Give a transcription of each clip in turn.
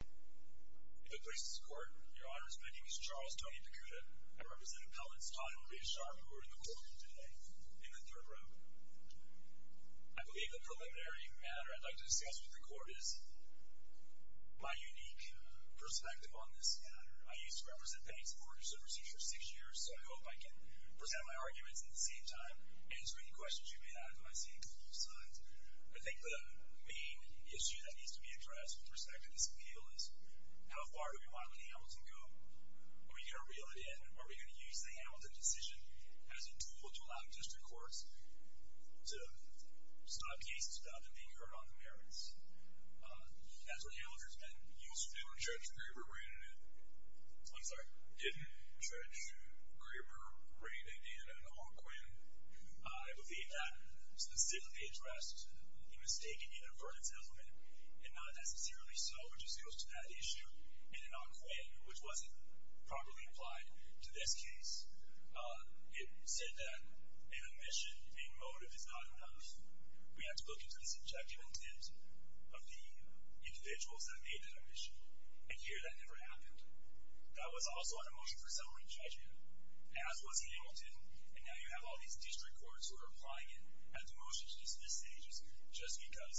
If it pleases the Court, Your Honors, my name is Charles Tony Picuta. I represent Appellants Todd and Ray Sharp who are in the Court today, in the third row. I believe the preliminary matter I'd like to discuss with the Court is my unique perspective on this matter. I used to represent banks and mortgages overseas for six years, so I hope I can present my arguments at the same time and answer any questions you may have that I see on both sides. I think the main issue that needs to be addressed with respect to this appeal is how far do we want Hamilton to go? Are we going to reel it in? Are we going to use the Hamilton decision as a tool to allow district courts to stop cases without them being heard on the merits? That's what Hamilton's been used to do in Trench, Graber, Raiden, and Anquan. I believe that specifically addressed a mistaken inadvertence element, and not necessarily so. It just goes to that issue in Anquan, which wasn't properly applied to this case. It said that an omission in motive is not enough. We have to look into the subjective intent of the individuals that made that omission, and here that never happened. That was also an omission for summary judgment, as was Hamilton. And now you have all these district courts who are applying it as an omission to dismiss sages just because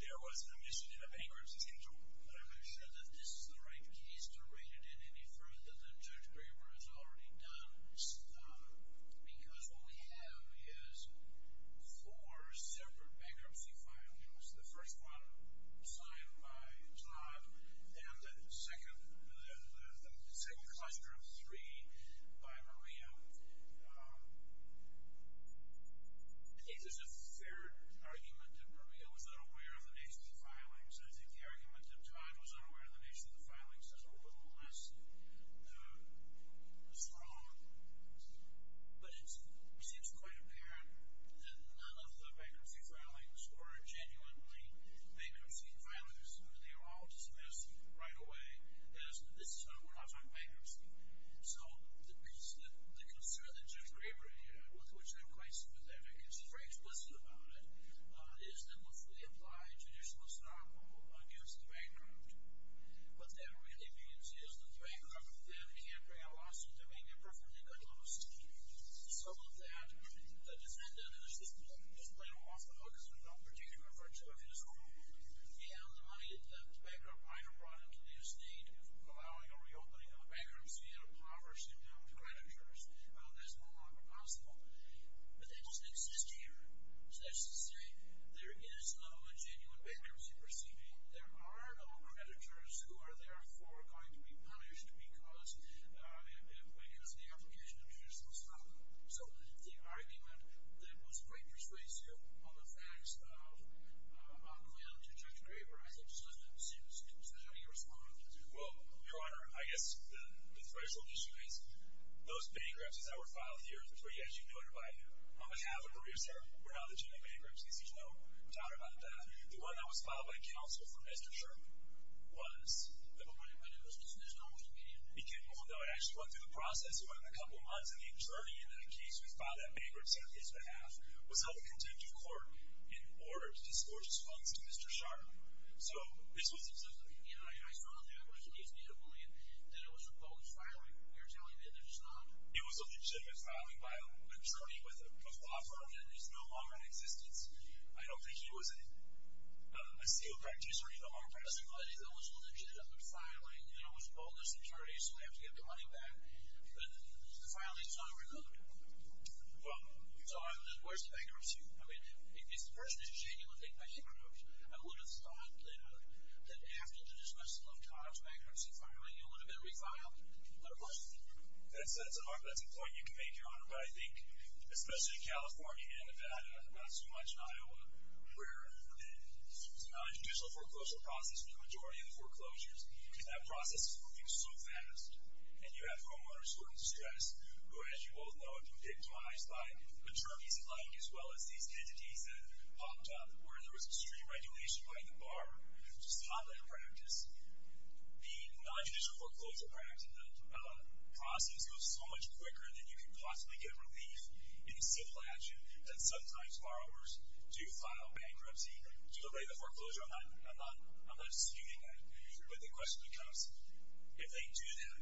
there was an omission in a bankruptcy schedule. But I'm not sure that this is the right case to rein it in any further than Judge Graber has already done. Because what we have is four separate bankruptcy filings. The first one signed by Todd, and the second cluster of three by Maria. I think there's a fair argument that Maria was unaware of the nation's filings. I think the argument that Todd was unaware of the nation's filings is a little less strong. But it seems quite apparent that none of the bankruptcy filings were genuinely bankruptcy filings. They were all dismissed right away as, we're not talking bankruptcy. So the concern that Judge Graber had, with which I'm quite sympathetic, and she's very explicit about it, is that if we apply traditional snob rule against the bankrupt, what that really means is that the bankrupt then can bring a loss of doing a perfectly good loss. Some of that, the defendant is just playing off the hook as if it were a particular virtue of his own. And the money that the bankrupt might have brought into the estate, allowing a reopening of the bankruptcy, and impoverished, you know, creditors, that's no longer possible today. But they just exist here. So that's to say there is no genuine bankruptcy proceeding. There are no creditors who are therefore going to be punished because of the application of traditional snob rule. So the argument that was quite persuasive on the facts of a plan to Judge Graber, I think, just doesn't exist. So how do you respond to that? Well, Your Honor, I guess the threshold issue is those bankrupts that were filed here, which were, yes, you know everybody, on behalf of the real estate, were not legitimate bankrupts, because there's no doubt about that. The one that was filed by counsel for Mr. Sharpe was. But when it was dismissed, I wasn't getting anything. Well, no, it actually went through the process. It went a couple of months, and the attorney in that case who had filed that bankruptcy on his behalf was held in contempt of court in order to disclose his funds to Mr. Sharpe. So this was a system. I saw that when she gave me the plan that it was a false filing. You're telling me that it's not? It was a legitimate filing by an attorney with a law firm that is no longer in existence. I don't think he was a SEAL practitioner in the long-term. But if it was a legitimate filing, and it was called as an attorney, so we have to get the money back, then the filing is not revoked. Well, you could say that. So where's the bankruptcy? I mean, if the person is genuinely taking my secret notes, I would have thought that after the dismissal of Todd's bankruptcy filing, it would have been reviled. Another question? That's a point you can make, Your Honor. But I think, especially in California and Nevada, not so much in Iowa, where it's a nonjudicial foreclosure process for the majority of the foreclosures, and that process is moving so fast, and you have homeowners who are in distress, who, as you all know, have been victimized by attorneys-at-large, as well as these entities that popped up where there was extreme regulation by the bar, to stop that practice, the nonjudicial foreclosure process goes so much quicker than you can possibly get relief in the civil action that sometimes borrowers do file bankruptcy and deliberate the foreclosure. I'm not disputing that. But the question becomes, if they do that,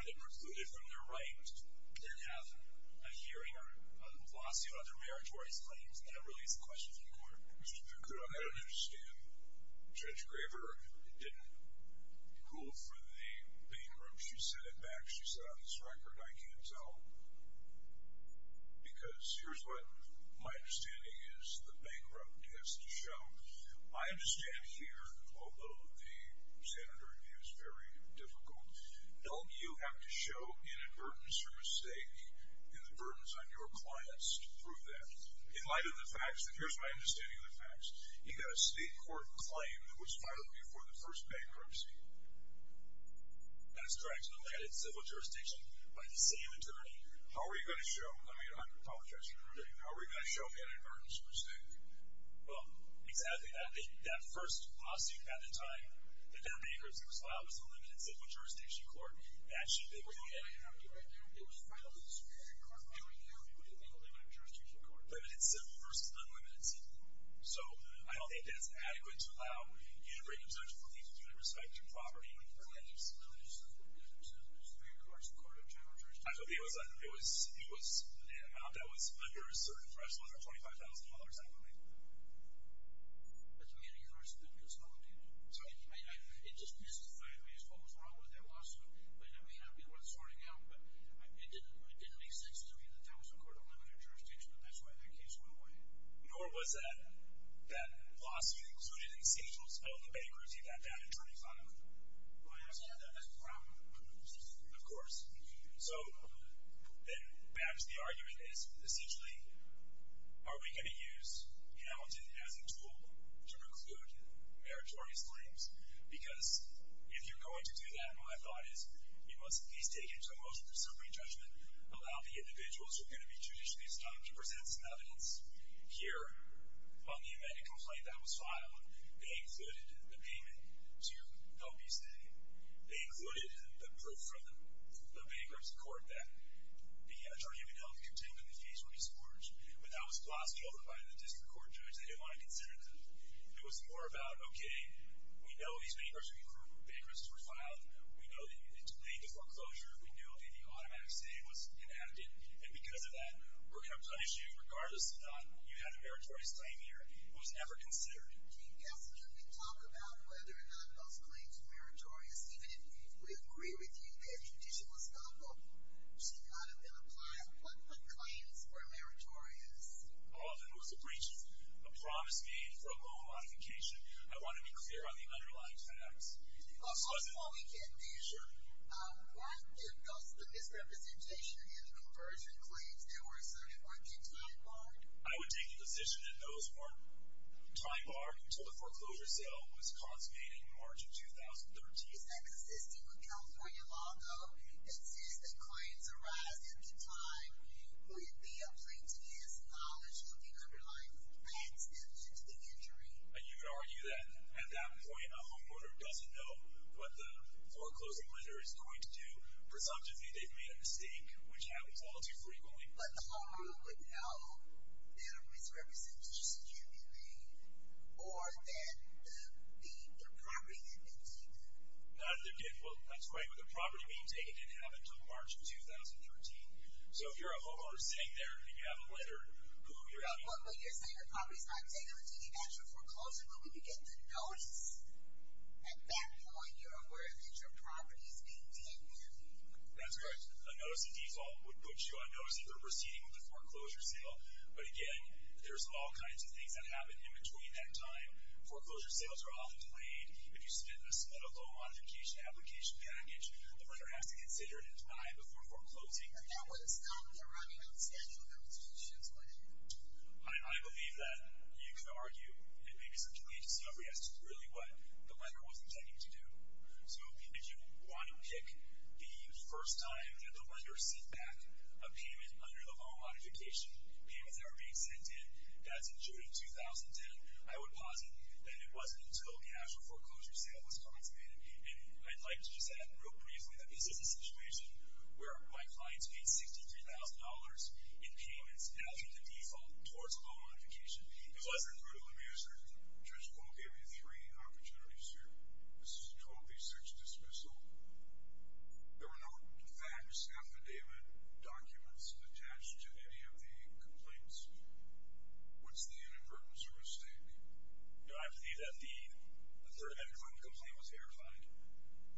are they precluded from their right and have a hearing or a lawsuit under meritorious claims? That really is the question for the Court. I don't understand. Judge Graver didn't rule for the bankruptcy. She said it back. She said on this record, I can't tell, because here's what my understanding is the bankruptcy has to show. My understanding here, although the standard review is very difficult, don't you have to show inadvertence or mistake and the burdens on your clients to prove that? In light of the facts, and here's my understanding of the facts, you've got a state court claim that was filed before the first bankruptcy. That is correct. And they had it in civil jurisdiction by the same attorney. How are you going to show? I mean, I apologize for interrupting. How are you going to show inadvertence or mistake? Well, exactly. That first lawsuit at the time that their bankruptcy was filed was the limited civil jurisdiction court. Actually, they were getting it. It was filed in the Superior Court. I don't care if it would have been the limited jurisdiction court. Limited civil versus unlimited civil. So I don't think that's adequate to allow you to bring objection from the agency with respect to property. I told you, it was an amount that was under a certain threshold of $25,000 at the time. It just mystifies me as to what was wrong with that lawsuit. It may not be worth sorting out, but it didn't make sense to me that that was a court of limited jurisdiction, but that's why that case went away. Nor was that lawsuit included in Siegel's felony bankruptcy that time in 2005. Well, I understand that. That's a problem. Of course. So then back to the argument. Essentially, are we going to use Hamilton as a tool to preclude meritorious claims? Because if you're going to do that, my thought is, you must at least take it to a motion for summary judgment, allow the individuals who are going to be judicially stumped to present some evidence. Here, on the amended complaint that was filed, they included the payment to help you stay. They included the proof from the bankruptcy court that the Attorney General contended in the case would be scorched, but that was glossed over by the district court judge. They didn't want to consider that. It was more about, okay, we know these bankruptcies were filed. We know that you delayed the foreclosure. We know that the automatic save was inadequate, and because of that, we're going to punish you. Regardless of that, you had a meritorious claim here. It was never considered. Can you guess? Could we talk about whether or not those claims were meritorious? Even if we agree with you that a judicial stumple should not have been applied, what claims were meritorious? Often it was a breach of a promise made for a loan modification. I want to be clear on the underlying facts. Also, while we can't measure, weren't the misrepresentation and the conversion claims that were asserted, weren't they time-barred? I would take a position that those weren't time-barred until the foreclosure sale was consummated in March of 2013. Is that consistent with California law, though, that says that claims arise at the time when the plaintiff's knowledge of the underlying facts adds to the injury? You could argue that at that point, a homeowner doesn't know what the foreclosure lender is going to do. Presumptively, they've made a mistake, which happens all too frequently. But the homeowner would know that a misrepresentation should be made or that the property had been taken? Well, that's right. The property being taken didn't happen until March of 2013. So if you're a homeowner sitting there and you have a letter... But you're saying your property's not taken until you've had your foreclosure? But when you get the notice, at that point, you're aware that your property's being de-interviewed. That's right. A notice of default would put you on notice that they're proceeding with a foreclosure sale. But again, there's all kinds of things that happen in between that time. Foreclosure sales are often delayed. If you submit a loan modification application package, the lender has to consider it and deny it before foreclosing. At that point, it's not in their writing. It's in their constitution. I believe that. You could argue. It may be subject to agency overrides. It's really what the lender was intending to do. So if you want to pick the first time that the lender sent back a payment under the loan modification, payments that were being sent in, that's in June of 2010, I would posit that it wasn't until the actual foreclosure sale was consummated. And I'd like to just add, real briefly, that this is a situation where my clients paid $63,000 in payments after the default towards a loan modification. Let me ask you a question. Judge Paul gave you three opportunities here. This is a 12B6 dismissal. There were no facts, affidavit documents, attached to any of the complaints. What's the unimportant service statement? I believe that the third amendment complaint was verified.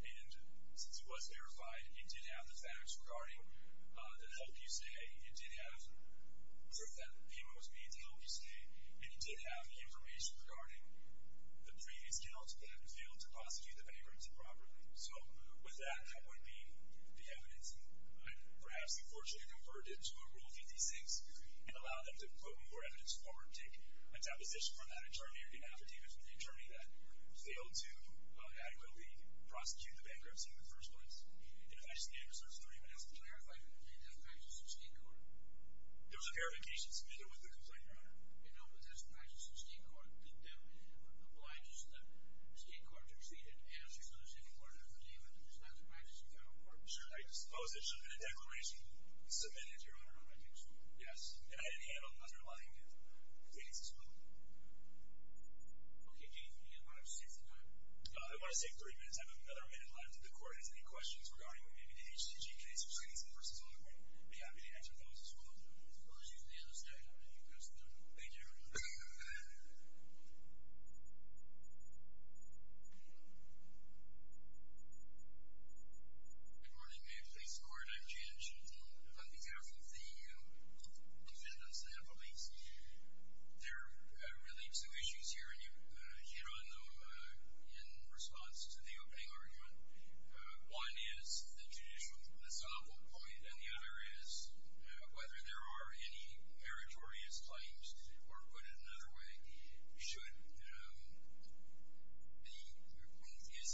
And since it was verified, it did have the facts regarding the help you say. It did have proof that the payment was made to help you stay. And it did have information regarding the previous guilt that failed to posit you the bankruptcy properly. So with that, that would be the evidence. I'd perhaps, unfortunately, convert it to a Rule 56 and allow them to put more evidence forward, take a deposition from that attorney, or get an affidavit from the attorney that failed to adequately prosecute the bankruptcy in the first place. And if I stand, Mr. Attorney, what else can I do? Can you clarify, did you get that in the state court? There was a verification submitted with the complaint, Your Honor. You know, but that's in the Texas State Court. The state court did not receive an answer to the state court affidavit. I suppose it should have been a declaration submitted, Your Honor. I think so. Yes, and I didn't handle the underlying case as well. Okay, James, we have about six minutes. I want to save three minutes. I have another minute left. If the court has any questions regarding what may be the HTG case or Stinson v. Ogden, I'd be happy to answer those as well. We'll see you at the end of the session. Thank you, Mr. Attorney. Thank you. Good morning, Mayor of the Police Court. I'm James Chilton on behalf of the defendants and the police. There are really two issues here, and you hit on them in response to the opening argument. One is the judicial example point, and the other is whether there are any meritorious claims, or put it another way, is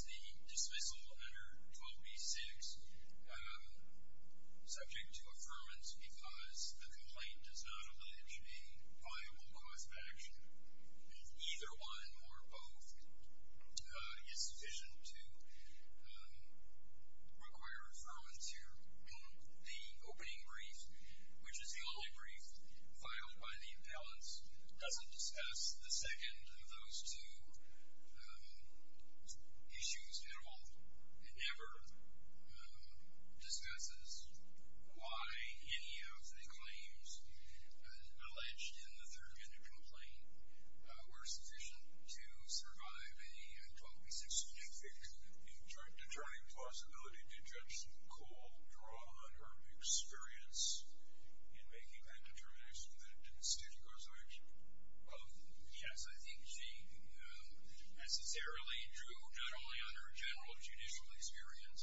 the dismissal under 12b-6 subject to affirmance because the complaint does not allege a viable cause of action? Either one or both is sufficient to require affirmance here. The opening brief, which is the only brief filed by the appellants, doesn't discuss the second of those two issues at all. It never discusses why any of the claims alleged in the third-agenda complaint were sufficient to survive a 12b-6 subject victim. In determining the possibility to judge McCall, draw on her experience in making that determination that it didn't state a cause of action? Yes, I think she necessarily drew not only on her general judicial experience,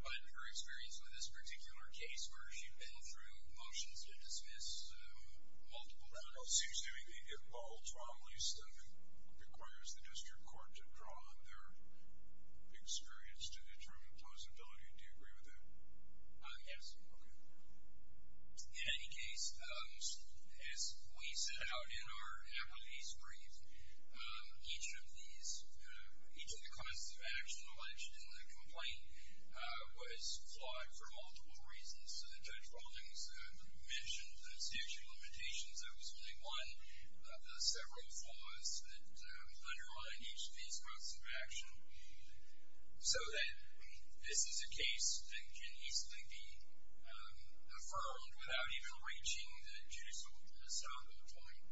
but her experience with this particular case where she'd been through motions to dismiss multiple defendants. It seems to me that it all, to our least, requires the district court to draw on their experience to determine plausibility. Do you agree with that? Yes. In any case, as we set out in our appellee's brief, each of the causes of action alleged in the complaint was flawed for multiple reasons. Judge Rawlings mentioned the statute of limitations. That was really one of the several flaws that underline each of these causes of action. So then, this is a case that can easily be affirmed without even reaching the judicial estoppel point?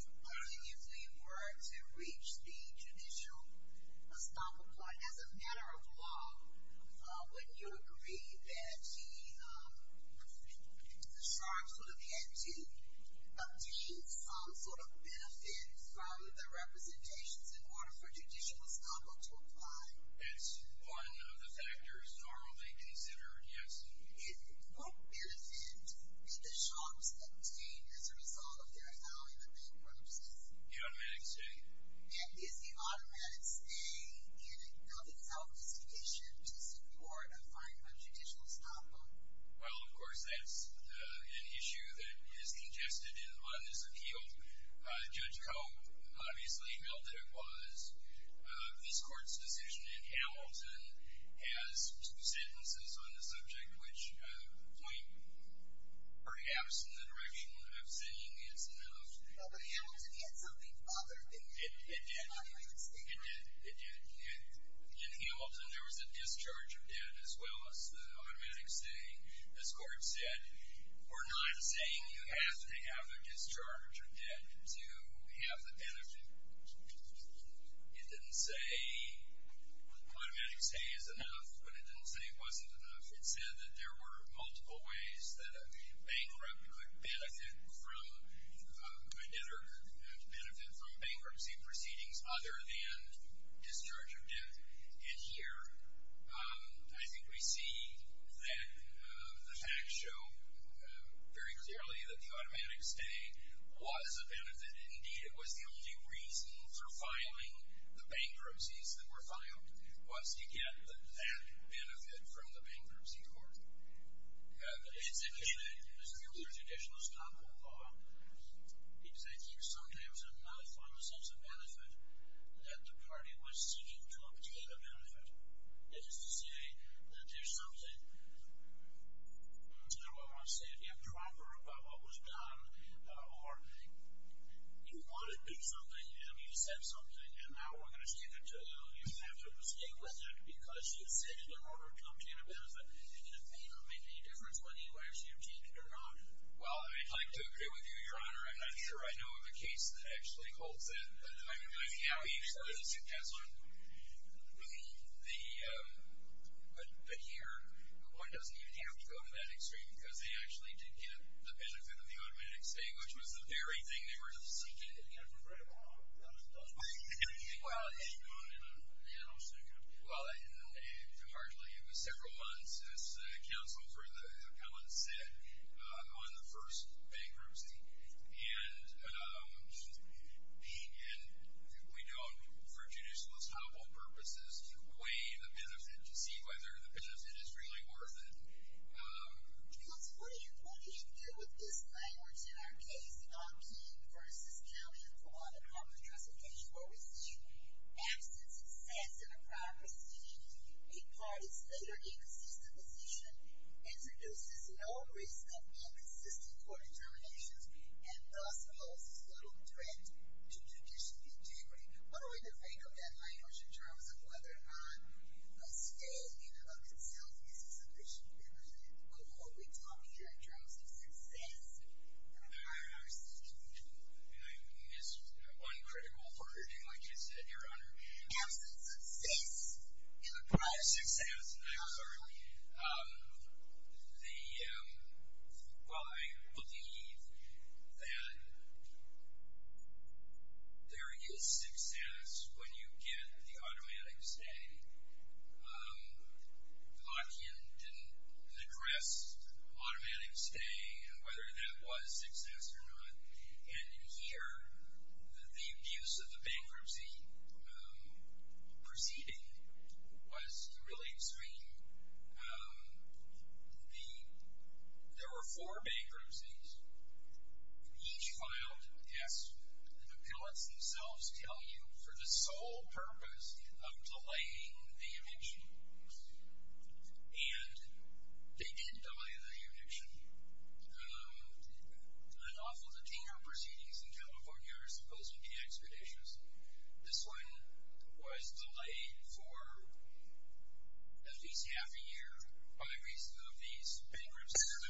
It could easily work to reach the judicial estoppel point as a matter of law. Wouldn't you agree that the sharks would have had to obtain some sort of benefit from the representations in order for judicial estoppel to apply? That's one of the factors normally considered, yes. And what benefit did the sharks obtain as a result of their allowing the bankruptcy? The automatic stay. And is the automatic stay, in and of itself, sufficient to support a fine of judicial estoppel? Well, of course, that's an issue that is congested in this appeal. Judge Coe obviously held that it was. This court's decision in Hamilton has two sentences on the subject which point perhaps in the direction of saying it's enough. But Hamilton had something other than the automatic stay, right? It did. In Hamilton, there was a discharge of debt as well as the automatic stay. This court said, we're not saying you have to have a discharge of debt to have the benefit. It didn't say automatic stay is enough, but it didn't say it wasn't enough. It said that there were multiple ways that a bankrupt could benefit from bankruptcy proceedings other than discharge of debt. And here, I think we see that the facts show very clearly that the automatic stay was a benefit. Indeed, it was the only reason for filing the bankruptcies that were filed was to get that benefit from the bankruptcy court. But is it true that judicial estoppel law, is that you sometimes have not found a sense of benefit that the party was seeking to obtain a benefit? That is to say that there's something, I'm not sure what I want to say, improper about what was done or you wanted to do something and you said something and now we're going to stick it to you and you have to stay with it because you said it in order to obtain a benefit. Did it make any difference whether you actually obtained it or not? Well, I'd like to agree with you, Your Honor, and I'm sure I know of a case that actually holds that. I mean, how easily does it pass on? But here, one doesn't even have to go to that extreme because they actually did get the benefit of the automatic stay, which was the very thing they were seeking. They did get it for very long. How long did it take? Well, it took a long time. Well, it took largely, it was several months, as counsel for the appellant said, on the first bankruptcy. And being in, we don't, for judicialist hobble purposes, weigh the benefit to see whether the benefit is really worth it. Because what do you do with this language in our case, on King v. County Appellant, on the transportation where we see absence of sense in a prior proceeding, a party's later inconsistent decision introduces no risk of non-consistent court determinations and thus holds little threat to judicial integrity. What are we to think of that language in terms of whether or not a stay in and of itself is a sufficient benefit? What are we talking here in terms of success in a prior proceeding? I missed one critical wording, like you said, Your Honor. Absence of sense in a prior success. I'm sorry. The, well, I believe that there is success when you get the automatic stay. Lockean didn't address automatic stay and whether that was success or not. And in here, the abuse of the bankruptcy proceeding was really extreme. There were four bankruptcies. Each filed, as the appellants themselves tell you, for the sole purpose of delaying the eviction. And they did delay the eviction. And often the tenure proceedings in California are supposed to be expeditious. This one was delayed for at least half a year by reason of these bankruptcies.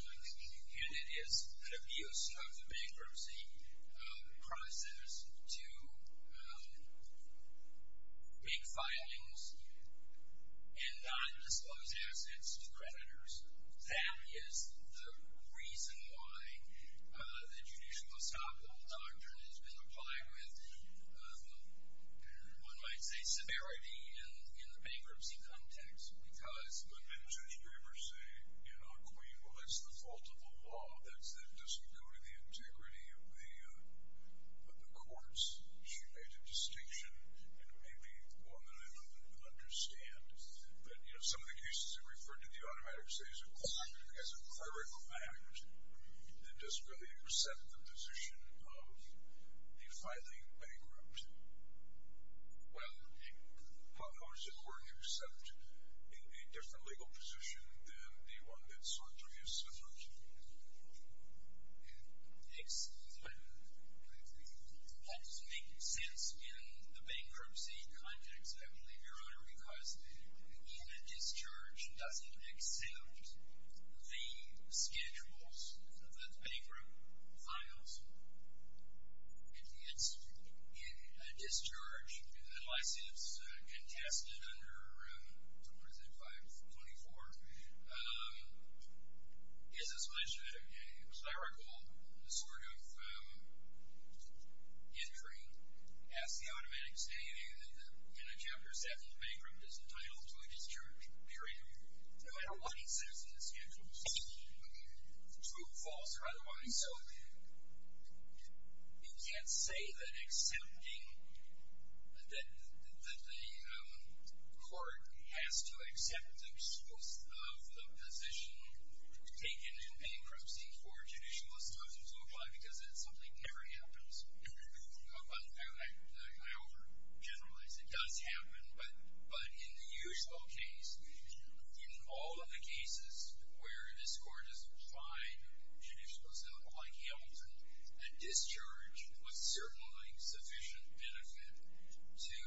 And it is an abuse of the bankruptcy process to make filings and not disclose assets to creditors. That is the reason why the judicial estoppel doctrine has been applied with. One might say severity in the bankruptcy context because. But didn't Judge Graber say, you know, Queen, well, that's the fault of the law. That doesn't go to the integrity of the courts. She made a distinction, and maybe one that I don't understand. But, you know, some of the cases that referred to the automatic stay as a clerical fact, it doesn't really accept the position of the filing bankrupt. Well, how does it work except in a different legal position than the one that Sartorius referred to? Excellent. That doesn't make sense in the bankruptcy context, I believe, Your Honor, because even a discharge doesn't accept the schedules that bankrupt files. It's a discharge. A licensed contestant under, what is it, 524, is a clerical sort of entry. As the automatic stay, in a Chapter 7, the bankrupt is entitled to a discharge, period, no matter what he says in the schedules, true, false, or otherwise. So you can't say that accepting that the court has to accept the position taken in bankruptcy for judicial estoppel to apply because something never happens. I overgeneralize. It does happen, but in the usual case, in all of the cases where this court has applied judicial estoppel, like Hamilton, a discharge was certainly sufficient benefit to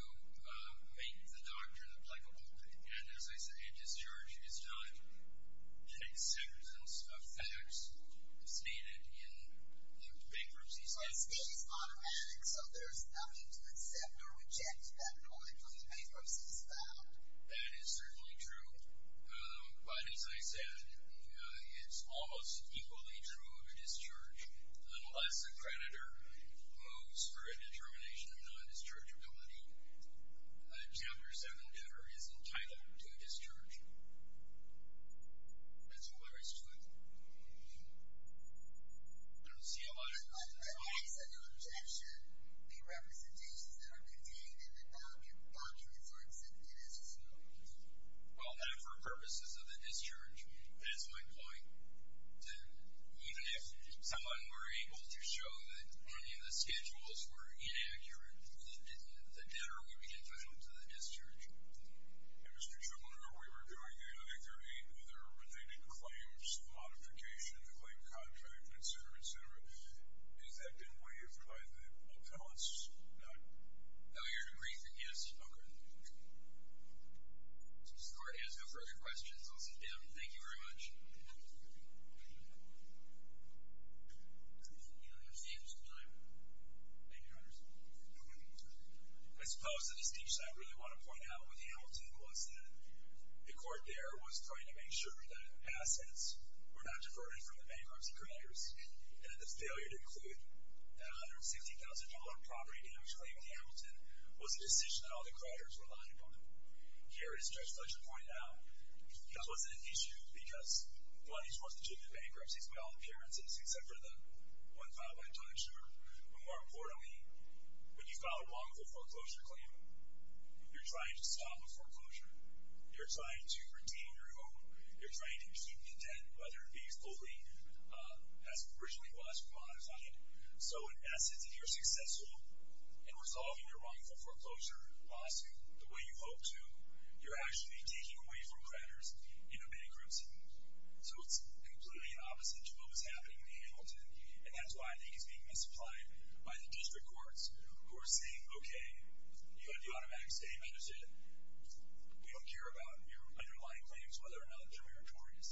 make the doctrine applicable. And, as I said, a discharge is not a sentence of facts stated in the bankruptcy statute. Well, a state is automatic, so there's nothing to accept or reject that politically bankruptcy is found. That is certainly true. But, as I said, it's almost equally true of a discharge. Unless a creditor moves for a determination of non-dischargeability, a Chapter 7 debtor is entitled to a discharge. That's all there is to it. I don't see a lot of this at all. But why is it an objection, the representations that are contained in the documents are accepted as true? Well, not for purposes of a discharge. That's my point, that even if someone were able to show that any of the schedules were inaccurate, the debtor would be entitled to the discharge. And, Mr. Chuckler, we were doing, I think, there are eight other related claims, modification, the claim contract, et cetera, et cetera. Has that been waived by the appellants? No. No, you're in agreement, yes. Okay. Since the court has no further questions, I'll sit down. Thank you very much. Thank you. Do we have time? Thank you, Your Honor. I suppose the distinction I really want to point out with Hamilton was that the court there was trying to make sure that assets were not diverted from the bankruptcy creditors and that the failure to include that $170,000 property damage claim in Hamilton was a decision that all the creditors relied upon. Here, as Judge Fletcher pointed out, it wasn't an issue because money is worth a chip in bankruptcies by all appearances except for the one filed by a timeshare. But more importantly, when you file a wrongful foreclosure claim, you're trying to stop a foreclosure. You're trying to retain your hope. You're trying to keep intent, whether it be fully as originally was modified. So, in essence, if you're successful in resolving your wrongful foreclosure lawsuit the way you hope to, you're actually taking away from creditors in a bankruptcy. So it's completely opposite to what was happening in Hamilton, and that's why I think it's being misapplied by the district courts who are saying, okay, you have the automatic stay benefit. We don't care about your underlying claims, whether or not they're meritorious.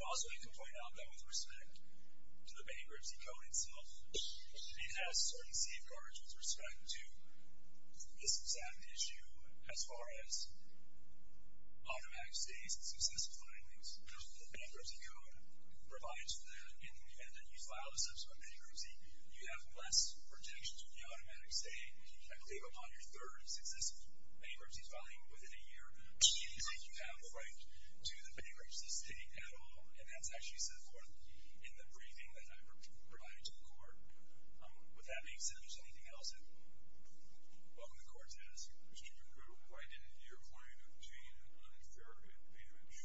I also need to point out that with respect to the bankruptcy code itself, it has certain safeguards with respect to this exact issue as far as automatic stays and successive filings. The bankruptcy code provides for that, and then you file a subsequent bankruptcy, you have less protection from the automatic stay, I believe, upon your third successive bankruptcy filing within a year. It seems like you have a right to the bankruptcy stay at all, and that's actually set forth in the briefing that I provided to the court. With that being said, if there's anything else, welcome to the court, Dennis. Mr. Kruger, why didn't your client obtain an unfair advantage?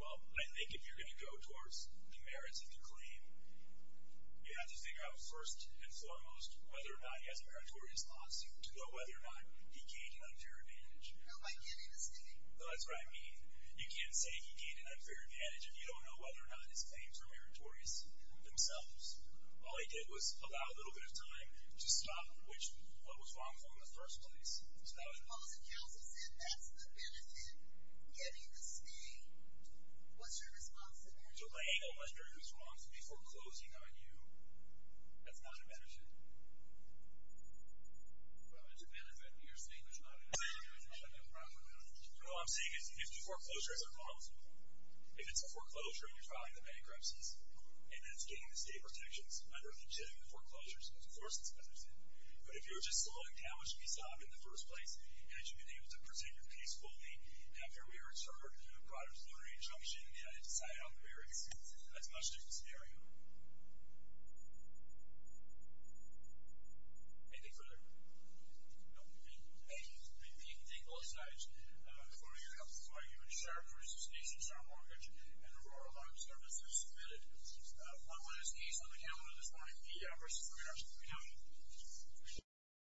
Well, I think if you're going to go towards the merits of the claim, you have to figure out first and foremost whether or not he has a meritorious lawsuit to know whether or not he gained an unfair advantage. No, I get it. That's what I mean. You can't say he gained an unfair advantage if you don't know whether or not his claims are meritorious themselves. All he did was allow a little bit of time to stop what was wrongful in the first place. Well, the counsel said that's the benefit, getting the stay. What's your response to that? I ain't going to wonder who's wrongful before closing on you. That's not a benefit. Well, it's a benefit, but you're saying it's not a benefit. No, I'm saying if the foreclosure isn't wrongful, if it's a foreclosure and you're filing the bankruptcies and it's gaining the stay protections under legitimate foreclosures, of course it's a benefit. But if you're just slowing down what should be solved in the first place and you've been able to protect your case fully after we were inserted a new product, a new re-injunction, and decided on the merits, that's a much different scenario. Anything further? No, we're good. Thank you. Thank you. Thank you. You can take both sides. Before we go, are you in charge for a suspect, and so are mortgage and rural loan services submitted? One last case on the calendar this morning, E.O. versus Renown. Renown.